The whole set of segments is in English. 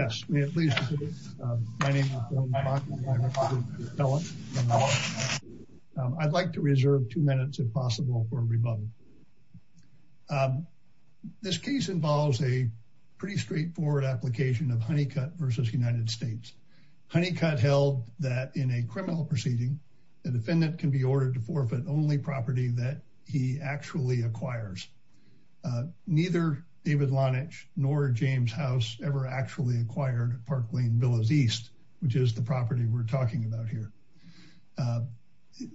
I'd like to reserve two minutes if possible for a rebuttal. This case involves a pretty straightforward application of Honeycutt v. United States. Honeycutt held that in a criminal proceeding, the defendant can be ordered to forfeit only property that he actually acquires. Neither David Lonitch nor James House ever actually acquired Park Lane Villas East, which is the property we're talking about here.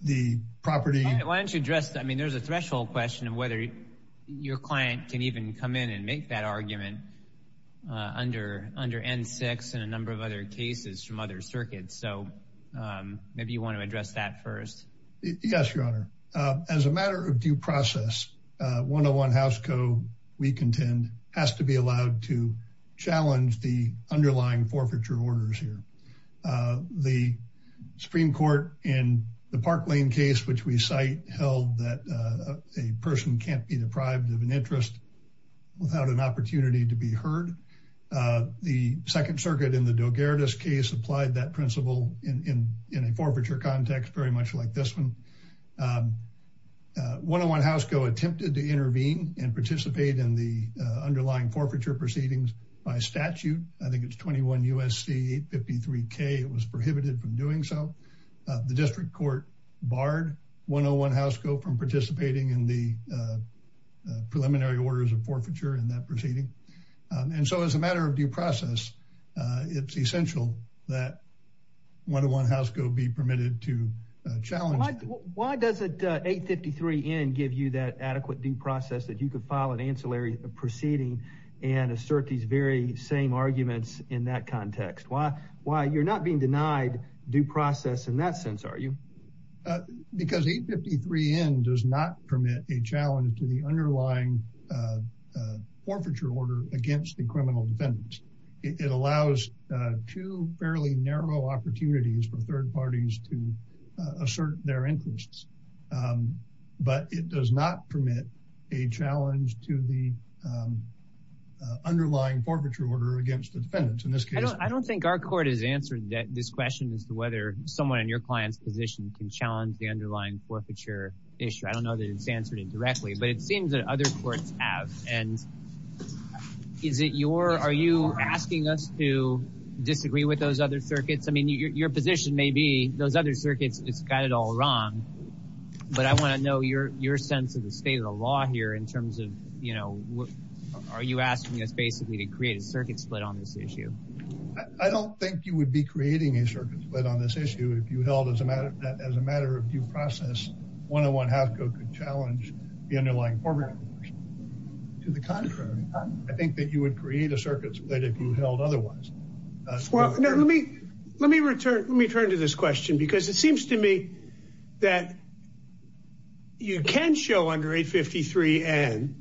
The property... Why don't you address that? I mean, there's a threshold question of whether your client can even come in and make that argument under N6 and a number of other cases from other circuits. Yes, Your Honor. As a matter of due process, 101 House Co., we contend, has to be allowed to challenge the underlying forfeiture orders here. The Supreme Court in the Park Lane case, which we cite, held that a person can't be deprived of an interest without an opportunity to be heard. The Second Circuit in the Delgaredes case applied that principle in a forfeiture context very much like this one. 101 House Co. attempted to intervene and participate in the underlying forfeiture proceedings by statute. I think it's 21 U.S.C. 853 K. It was prohibited from doing so. The District Court barred 101 House Co. from participating in the preliminary orders of forfeiture in that proceeding. And so as a matter of due process, it's essential that 101 House Co. be permitted to challenge that. Why does 853 N give you that adequate due process that you could file an ancillary proceeding and assert these very same arguments in that context? Why you're not being denied due process in that sense, are you? Because 853 N does not permit a challenge to the underlying forfeiture order against the criminal defendants. It allows two fairly narrow opportunities for third parties to assert their interests. But it does not permit a challenge to the underlying forfeiture order against the defendants. In this case... I don't think our court has answered this question as to whether someone in your client's position can challenge the underlying forfeiture issue. I don't know that it's answered it directly, but it seems that other courts have. And is it your... Are you asking us to disagree with those other circuits? I mean, your position may be those other circuits, it's got it all wrong. But I want to know your sense of the state of the law here in terms of, you know, are you asking us basically to create a circuit split on this issue? I don't think you would be creating a circuit split on this issue if you held as a matter of due process, 101-HASCO could challenge the underlying forfeiture order. To the contrary, I think that you would create a circuit split if you held otherwise. Let me return to this question, because it seems to me that you can show under 853 N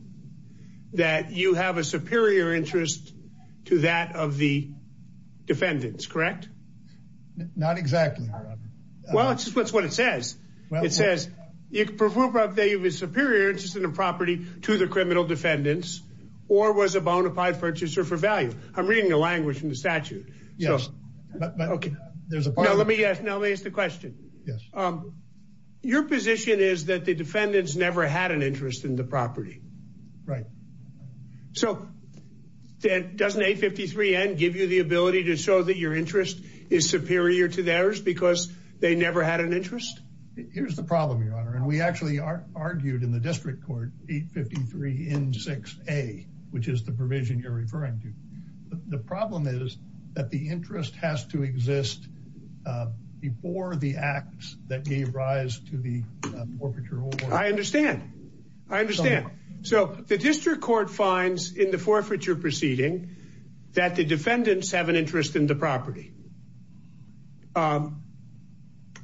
that you have a superior interest to that of the defendants, correct? Not exactly. Well, it's just what it says. It says you can prove that you have a superior interest in the property to the criminal defendants or was a bona fide purchaser for value. I'm reading the language in the statute. Yes. Okay. Now let me ask the question. Yes. Your position is that the defendants never had an interest in the property. Right. So doesn't 853 N give you the ability to show that your interest is superior to theirs because they never had an interest? Here's the problem, Your Honor. And we actually argued in the district court 853 N6A, which is the provision you're referring to. The problem is that the interest has to exist before the acts that gave rise to the forfeiture order. I understand. I understand. So the district court finds in the forfeiture proceeding that the defendants have an interest in the property. And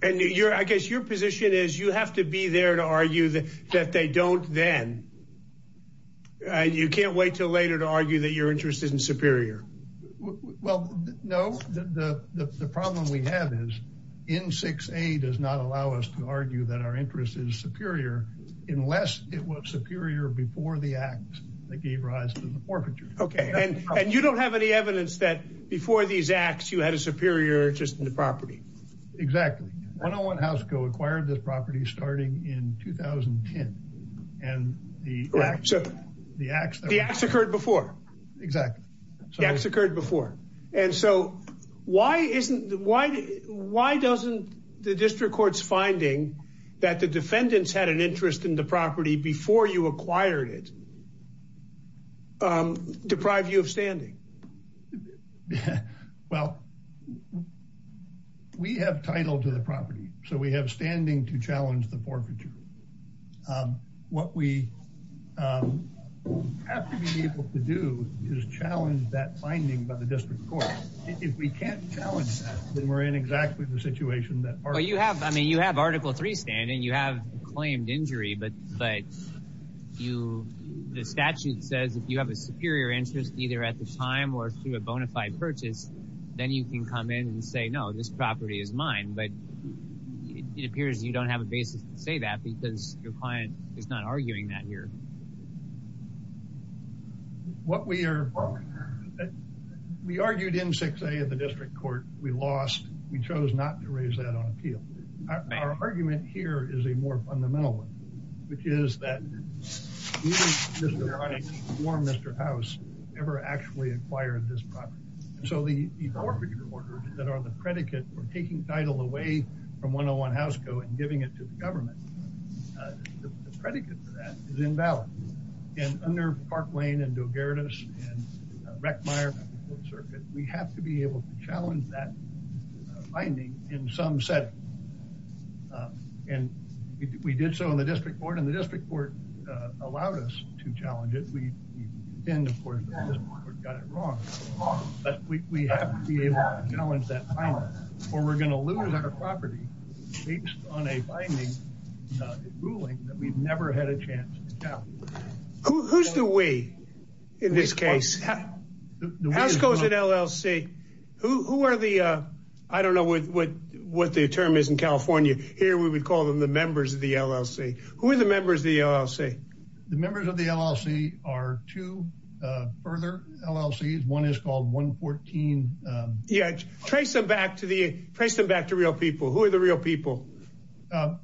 I guess your position is you have to be there to argue that they don't then. And you can't wait till later to argue that your interest isn't superior. Well, no, the problem we have is N6A does not allow us to argue that our interest is superior unless it was superior before the acts that gave rise to the forfeiture. Okay. And you don't have any evidence that before these acts you had a superior interest in the property. Exactly. 101 House Co. acquired this property starting in 2010. And the acts occurred before. Exactly. The acts occurred before. And so why doesn't the district court's finding that the defendants had an interest in the property before you acquired it deprive you of standing? Well, we have title to the property. So we have standing to challenge the forfeiture. What we have to be able to do is challenge that finding by the district court. If we can't challenge that, then we're in exactly the situation that. Well, you have, I mean, you have Article 3 standing. You have claimed injury, but you, the statute says if you have a superior interest either at the time or through a bona fide purchase, then you can come in and say, no, this property is mine. But it appears you don't have a basis to say that because your client is not arguing that here. What we are, we argued in 6A at the district court. We lost. We chose not to raise that on appeal. Our argument here is a more fundamental one, which is that neither Mr. Honex or Mr. House ever actually acquired this property. So the forfeiture orders that are the predicate for taking title away from 101 House Code and giving it to the government, the predicate for that is invalid. And under Park Lane and Delgaredis and Reckmeyer, we have to be able to challenge that finding in some setting. And we did so in the district court and the district court allowed us to challenge it. We didn't, of course, in the district court got it wrong, but we have to be able to challenge that finding or we're going to lose our property based on a binding ruling that we've never had a chance to challenge. Who's the we in this case? House Code LLC, who are the, I don't know what the term is in California. Here we would call them the members of the LLC. Who are the members of the LLC? The members of the LLC are two further LLCs. One is called 114. Yeah, trace them back to the, trace them back to real people. Who are the real people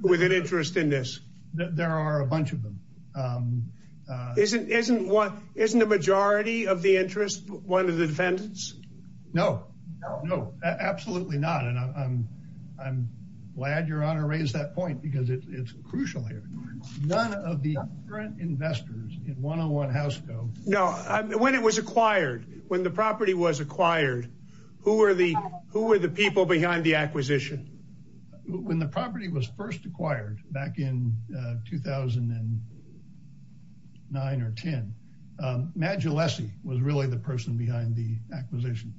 with an interest in this? There are a bunch of them. Isn't, isn't one, isn't the majority of the interest one of the defendants? No, no, no, absolutely not. And I'm, I'm glad your honor raised that point because it's crucial here. None of the current investors in 101 House Code. No, when it was acquired, when the property was acquired, who were the, who were the people behind the acquisition? When the property was first acquired back in 2009 or 10, Madge Alessi was really the person behind the acquisition.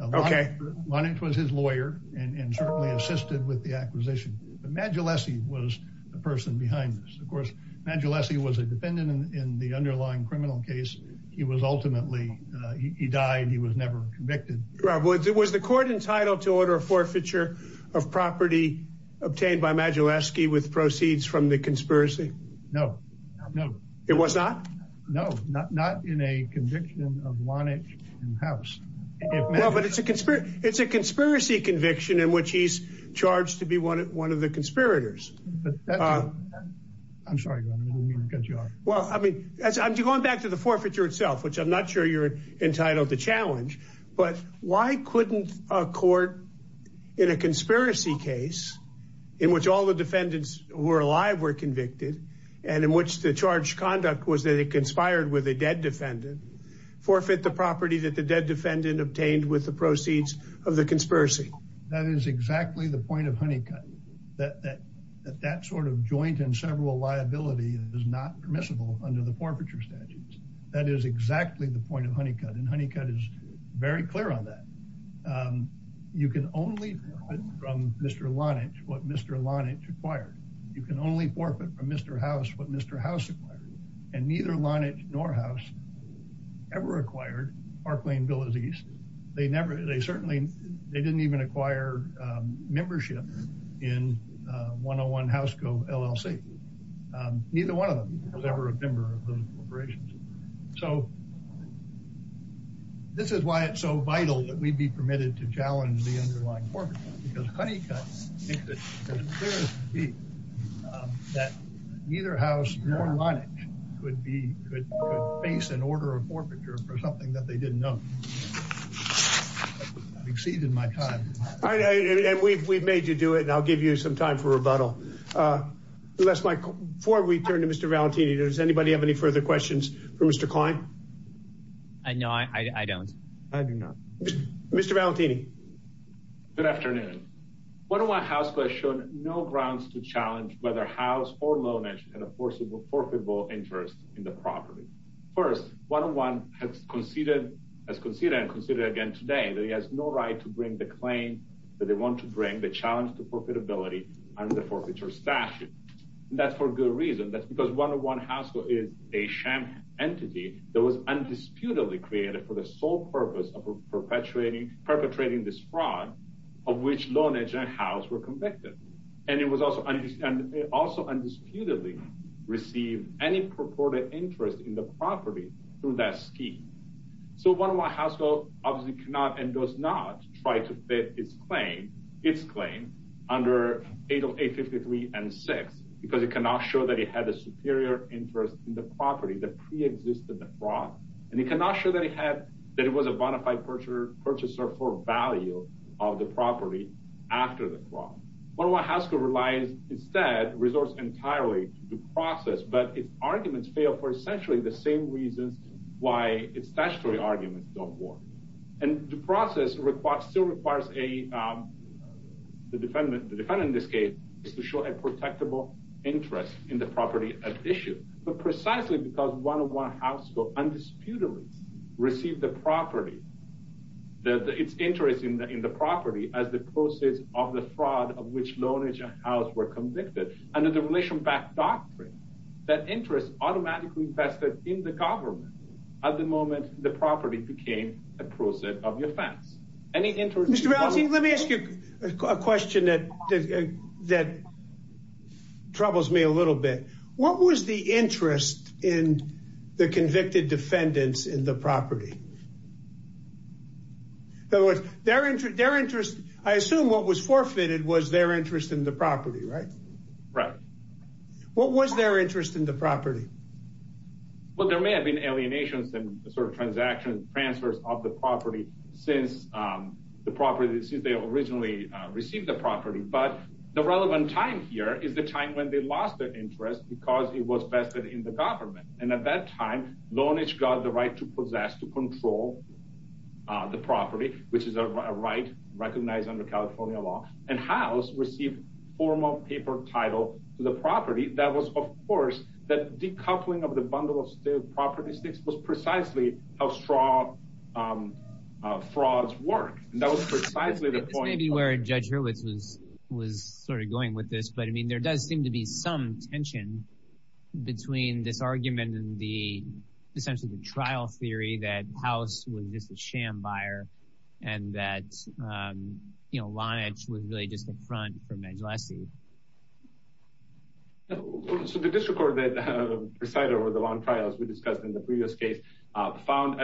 Okay. Lonnit was his lawyer and certainly assisted with the acquisition. But Madge Alessi was the person behind this. Of course, Madge Alessi was a defendant in the underlying criminal case. He was ultimately, he died. He was never convicted. Right. Was it, was the court entitled to order a forfeiture of property obtained by Madge Alessi with proceeds from the conspiracy? No, no, no. It was not? No, not, not in a conviction of Lonnit and House. Well, but it's a conspiracy, it's a conspiracy conviction in which he's charged to be one of the conspirators. I'm sorry, your honor, I didn't mean to cut you off. Well, I mean, going back to the forfeiture itself, which I'm not sure you're entitled to challenge, but why couldn't a court in a conspiracy case in which all the defendants who were alive were convicted and in which the charged conduct was that it conspired with a dead defendant, forfeit the property that the dead defendant obtained with the proceeds of the conspiracy? That is exactly the point of Honeycutt, that that sort of joint and several liability is not permissible under the forfeiture statutes. That is exactly the point of Honeycutt and Honeycutt is very clear on that. You can only forfeit from Mr. Lonnit what Mr. Lonnit required. You can only forfeit from Mr. House what Mr. House required. And neither Lonnit nor House ever acquired Park Lane Villas East. They never, they certainly, they didn't even acquire membership in 101 House Cove LLC. Neither one of them was ever a member of those corporations. So this is why it's so vital that we'd be permitted to challenge the underlying forfeiture because Honeycutt thinks it's clear as day that neither House nor Lonnit could be, could face an order of forfeiture for something that they didn't know. Exceeded my time. All right. And we've we've made you do it and I'll give you some time for rebuttal. Unless, before we turn to Mr. Valentini, does anybody have any further questions for Mr. Klein? No, I don't. I do not. Mr. Valentini. Good afternoon. 101 House has shown no grounds to challenge whether House or Lonnit had a forfeitable interest in the property. First, 101 has conceded, has conceded and conceded again today that he has no right to bring the claim that they want to bring the challenge to profitability under the forfeiture statute. That's for good reason. That's because 101 House is a sham entity that was undisputedly created for the sole purpose of perpetuating, perpetrating this fraud of which Lonnit and House were convicted. And it was also understood and also undisputedly received any purported interest in the property through that scheme. So 101 House obviously cannot and does not try to fit its claim, its claim under 853 and 6 because it cannot show that it had a superior interest in the property that pre-existed the fraud. And it cannot show that it had, that it was a bona fide purchaser for value of the property after the fraud. 101 House relies instead, resorts entirely to the process, but its arguments fail for essentially the same reasons why its statutory arguments don't work. And the process requires, still requires a, the defendant, the defendant in this case, is to show a protectable interest in the property at issue. But precisely because 101 House undisputedly received the property, that its interest in the property as the process of the fraud of which Lonnit and House were convicted under the relation back doctrine, that interest automatically vested in the government at the moment the property became a process of offense. Any interest? Mr. Rousey, let me ask you a question that that troubles me a little bit. What was the interest in the convicted defendants in the property? In other words, their interest, their interest, I assume what was forfeited was their interest in the property, right? What was their interest in the property? Well, there may have been alienations and sort of transaction transfers of the property since the property, since they originally received the property. But the relevant time here is the time when they lost their interest because it was vested in the government. And at that time, Lonnit got the right to possess to control the property, which is a right recognized under California law. And House received formal paper title to the property. That was, of course, that decoupling of the bundle of property stakes was precisely how strong frauds work. And that was precisely the point where Judge Hurwitz was was sort of going with this. But, I mean, there does seem to be some tension between this argument and the essentially the trial theory that House was just a sham buyer and that, you know, Lonnit was really just a front for Majelassi. So the district court that presided over the long trial, as we discussed in the previous case, found,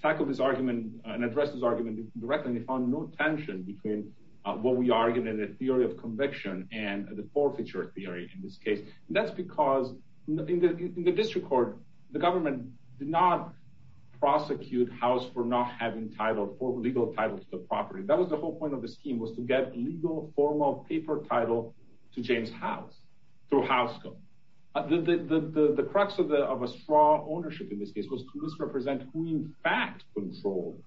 tackled this argument and addressed this argument directly. And they found no tension between what we argued in the theory of conviction and the forfeiture theory in this case. And that's because in the district court, the government did not prosecute House for not having title for legal title to the property. That was the whole point of the scheme was to get legal formal paper title to James House, to House go. The crux of the of a strong ownership in this case was to misrepresent who in fact controlled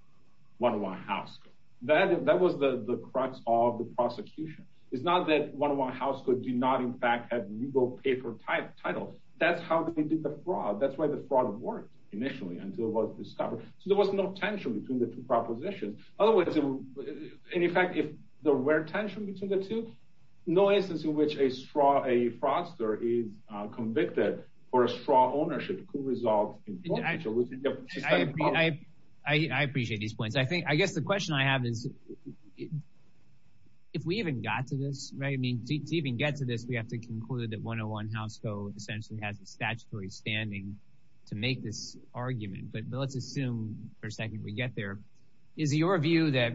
101 House. That was the crux of the prosecution. It's not that 101 House did not, in fact, have legal paper type title. That's how they did the fraud. That's why the fraud worked initially until it was discovered. So there was no tension between the two propositions. Otherwise, in fact, if there were tension between the two, no instance in which a fraudster is convicted for a strong ownership could result in forfeiture within the system of property. I appreciate these points. I think I guess the question I have is if we even got to this, I mean, to even get to this, we have to conclude that 101 House essentially has a statutory standing to make this argument. But let's assume for a second we get there. Is your view that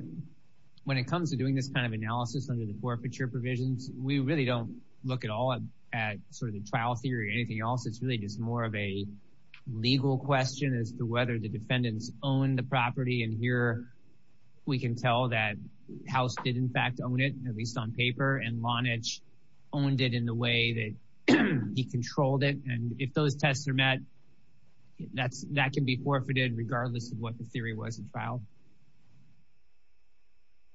when it comes to doing this kind of analysis under the forfeiture provisions, we really don't look at all at sort of the trial theory or anything else? It's really just more of a legal question as to whether the defendants own the property. And here we can tell that House did, in fact, own it, at least on paper, and Lonage owned it in the way that he controlled it. And if those tests are met, that can be forfeited regardless of what the theory was in trial.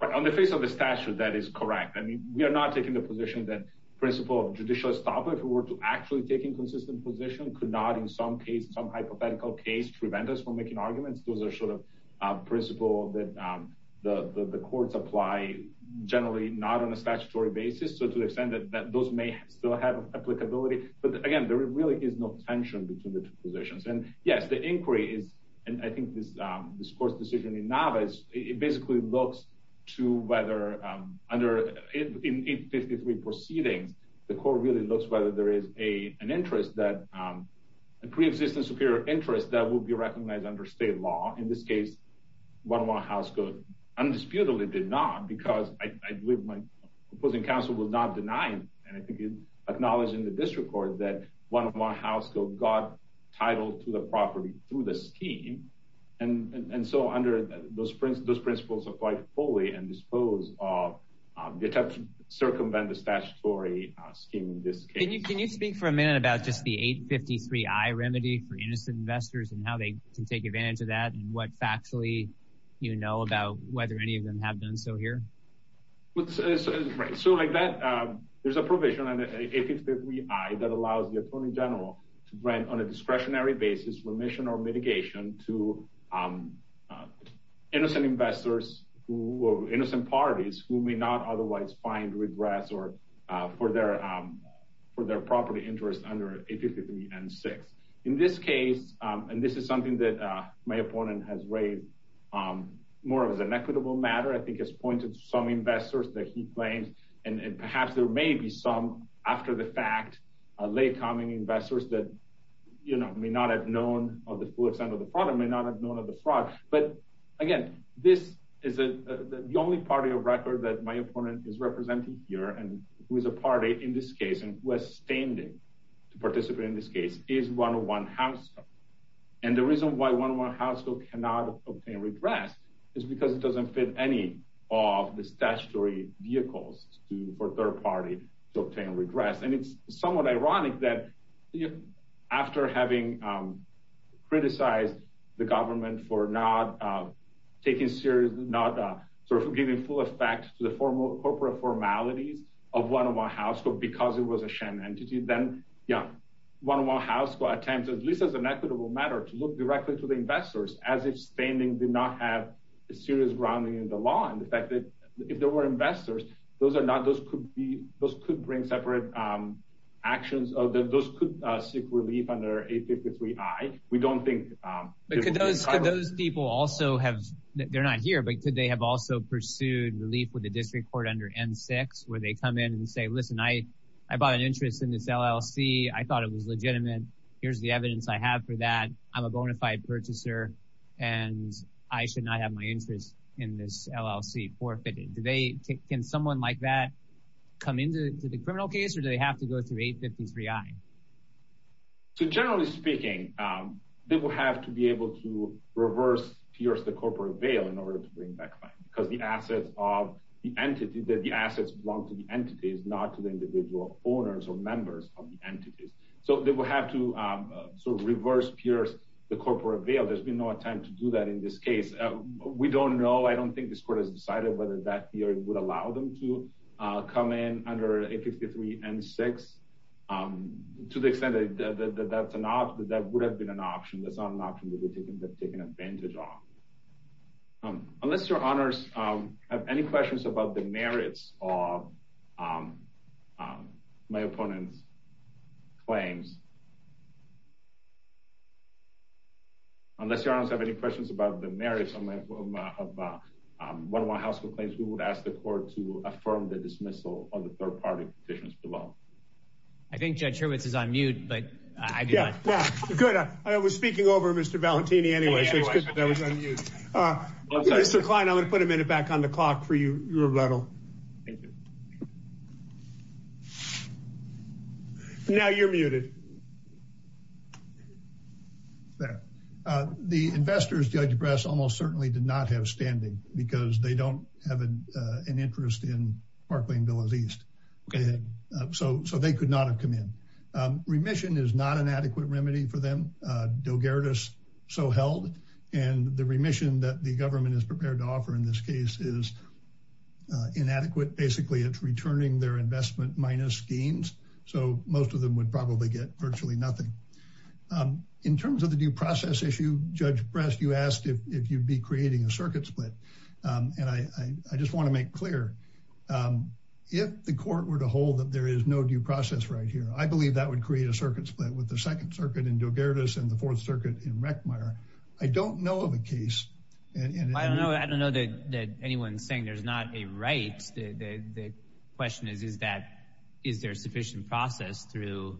On the face of the statute, that is correct. I mean, we are not taking the position that principle of judicial estoppel, if we were to actually take a consistent position, could not in some case, some hypothetical case, prevent us from making arguments. Those are sort of principle that the courts apply generally not on a statutory basis. So to the extent that those may still have applicability. But again, there really is no tension between the two positions. And yes, the inquiry is, and I think this court's decision in Nava is, it basically looks to whether under, in 853 proceedings, the court really looks whether there is an interest that, a preexistent superior interest that will be recognized under state law. In this case, one more House could undisputedly did not, because I believe my opposing counsel was not denying, and I think he acknowledged in the district court, that one more House got title to the property through the scheme. And so under those principles apply fully and dispose of the attempt to circumvent the statutory scheme in this case. Can you speak for a minute about just the 853-I remedy for innocent investors and how they can take advantage of that and what factually, you know, about whether any of them have done so here? So like that, there's a provision under 853-I that allows the Attorney General to grant on a discretionary basis remission or mitigation to innocent investors who, or innocent parties who may not otherwise find regress or for their, for their property interest under 853-N6. In this case, and this is something that my opponent has raised, more of as an equitable matter, I think has pointed to some investors that he claims, and perhaps there may be some after the fact, late coming investors that you know, may not have known of the full extent of the problem, may not have known of the fraud. But again, this is the only party of record that my opponent is representing here and who is a party in this case and who has standing to participate in this case is 101-House. And the reason why 101-House cannot obtain regress is because it doesn't fit any of the statutory vehicles for third party to obtain regress. And it's somewhat ironic that after having criticized the government for not taking serious, not sort of giving full effect to the formal corporate formalities of 101-House because it was a sham entity, then yeah, 101-House will attempt, at least as an equitable matter, to look directly to the investors as if standing did not have a serious grounding in the law. And the fact that if there were investors, those are not, those could be, those could bring separate actions, or those could seek relief under 853-I. We don't think those people also have, they're not here, but could they have also pursued relief with the district court under N-6, where they come in and say, listen, I, I bought an interest in this LLC. I thought it was legitimate. Here's the evidence I have for that. I'm a bona fide purchaser. And I should not have my interest in this LLC forfeited. Do they, can someone like that come into the criminal case? Or do they have to go through 853-I? So generally speaking, they will have to be able to reverse pierce the corporate veil in order to bring back fine, because the assets of the entity, that the assets belong to the entities, not to the individual owners or members of the entities. So they will have to sort of reverse pierce the corporate veil. There's been no attempt to do that in this case. We don't know. I don't think this court has decided whether that theory would allow them to come in under 853-N-6. To the extent that that's an option, that would have been an option. That's not an option that we're taking advantage of. Unless your honors have any questions about the merits of my opponent's claims. Unless your honors have any questions about the merits of one of my household claims, we would ask the court to affirm the dismissal of the third party petitions below. I think Judge Hurwitz is on mute, but I do not. Good. I was speaking over Mr. Valentini anyway, so it's good that I was on mute. Mr. Klein, I'm going to put a minute back on the clock for you, your level. Now you're muted. The investors, Judge Bress, almost certainly did not have standing because they don't have an interest in Parkland Villas East. So they could not have come in. Remission is not an adequate remedy for them. And the remission that the government is prepared to offer in this case is inadequate. Basically, it's returning their investment minus gains. So most of them would probably get virtually nothing. In terms of the due process issue, Judge Bress, you asked if you'd be creating a circuit split. And I just want to make clear, if the court were to hold that there is no due process right here, I believe that would create a circuit split with the Second Circuit in Delgaredes and the Fourth Circuit in Reckmeyer. I don't know of a case. I don't know that anyone's saying there's not a right. The question is, is there sufficient process through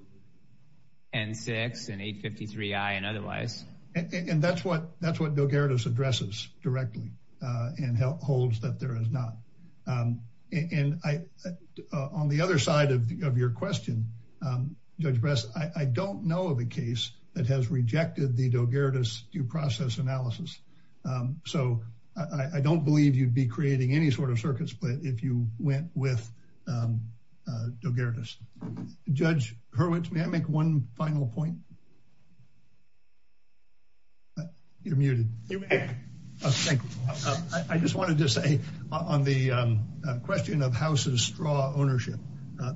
N6 and 853I and otherwise? And that's what Delgaredes addresses directly and holds that there is not. And on the other side of your question, Judge Bress, I don't know of a case that has rejected the Delgaredes due process analysis. So I don't believe you'd be creating any sort of circuit split if you went with Delgaredes. Judge Hurwitz, may I make one final point? You're muted. You may. I just wanted to say on the question of House's straw ownership,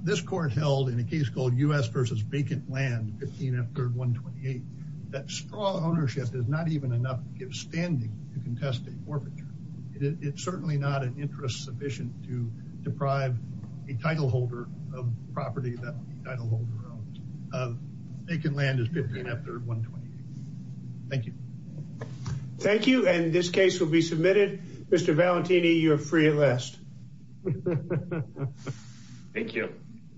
this court held in a case called U.S. v. Vacant Land, 15 F. 3rd, 128, that straw ownership is not even enough to give standing to contest a forfeiture. It's certainly not an interest sufficient to deprive a titleholder of property that titleholder owns. Vacant Land is 15 F. 3rd, 128. Thank you. Thank you, and this case will be submitted. Mr. Valentini, you're free at last. Thank you.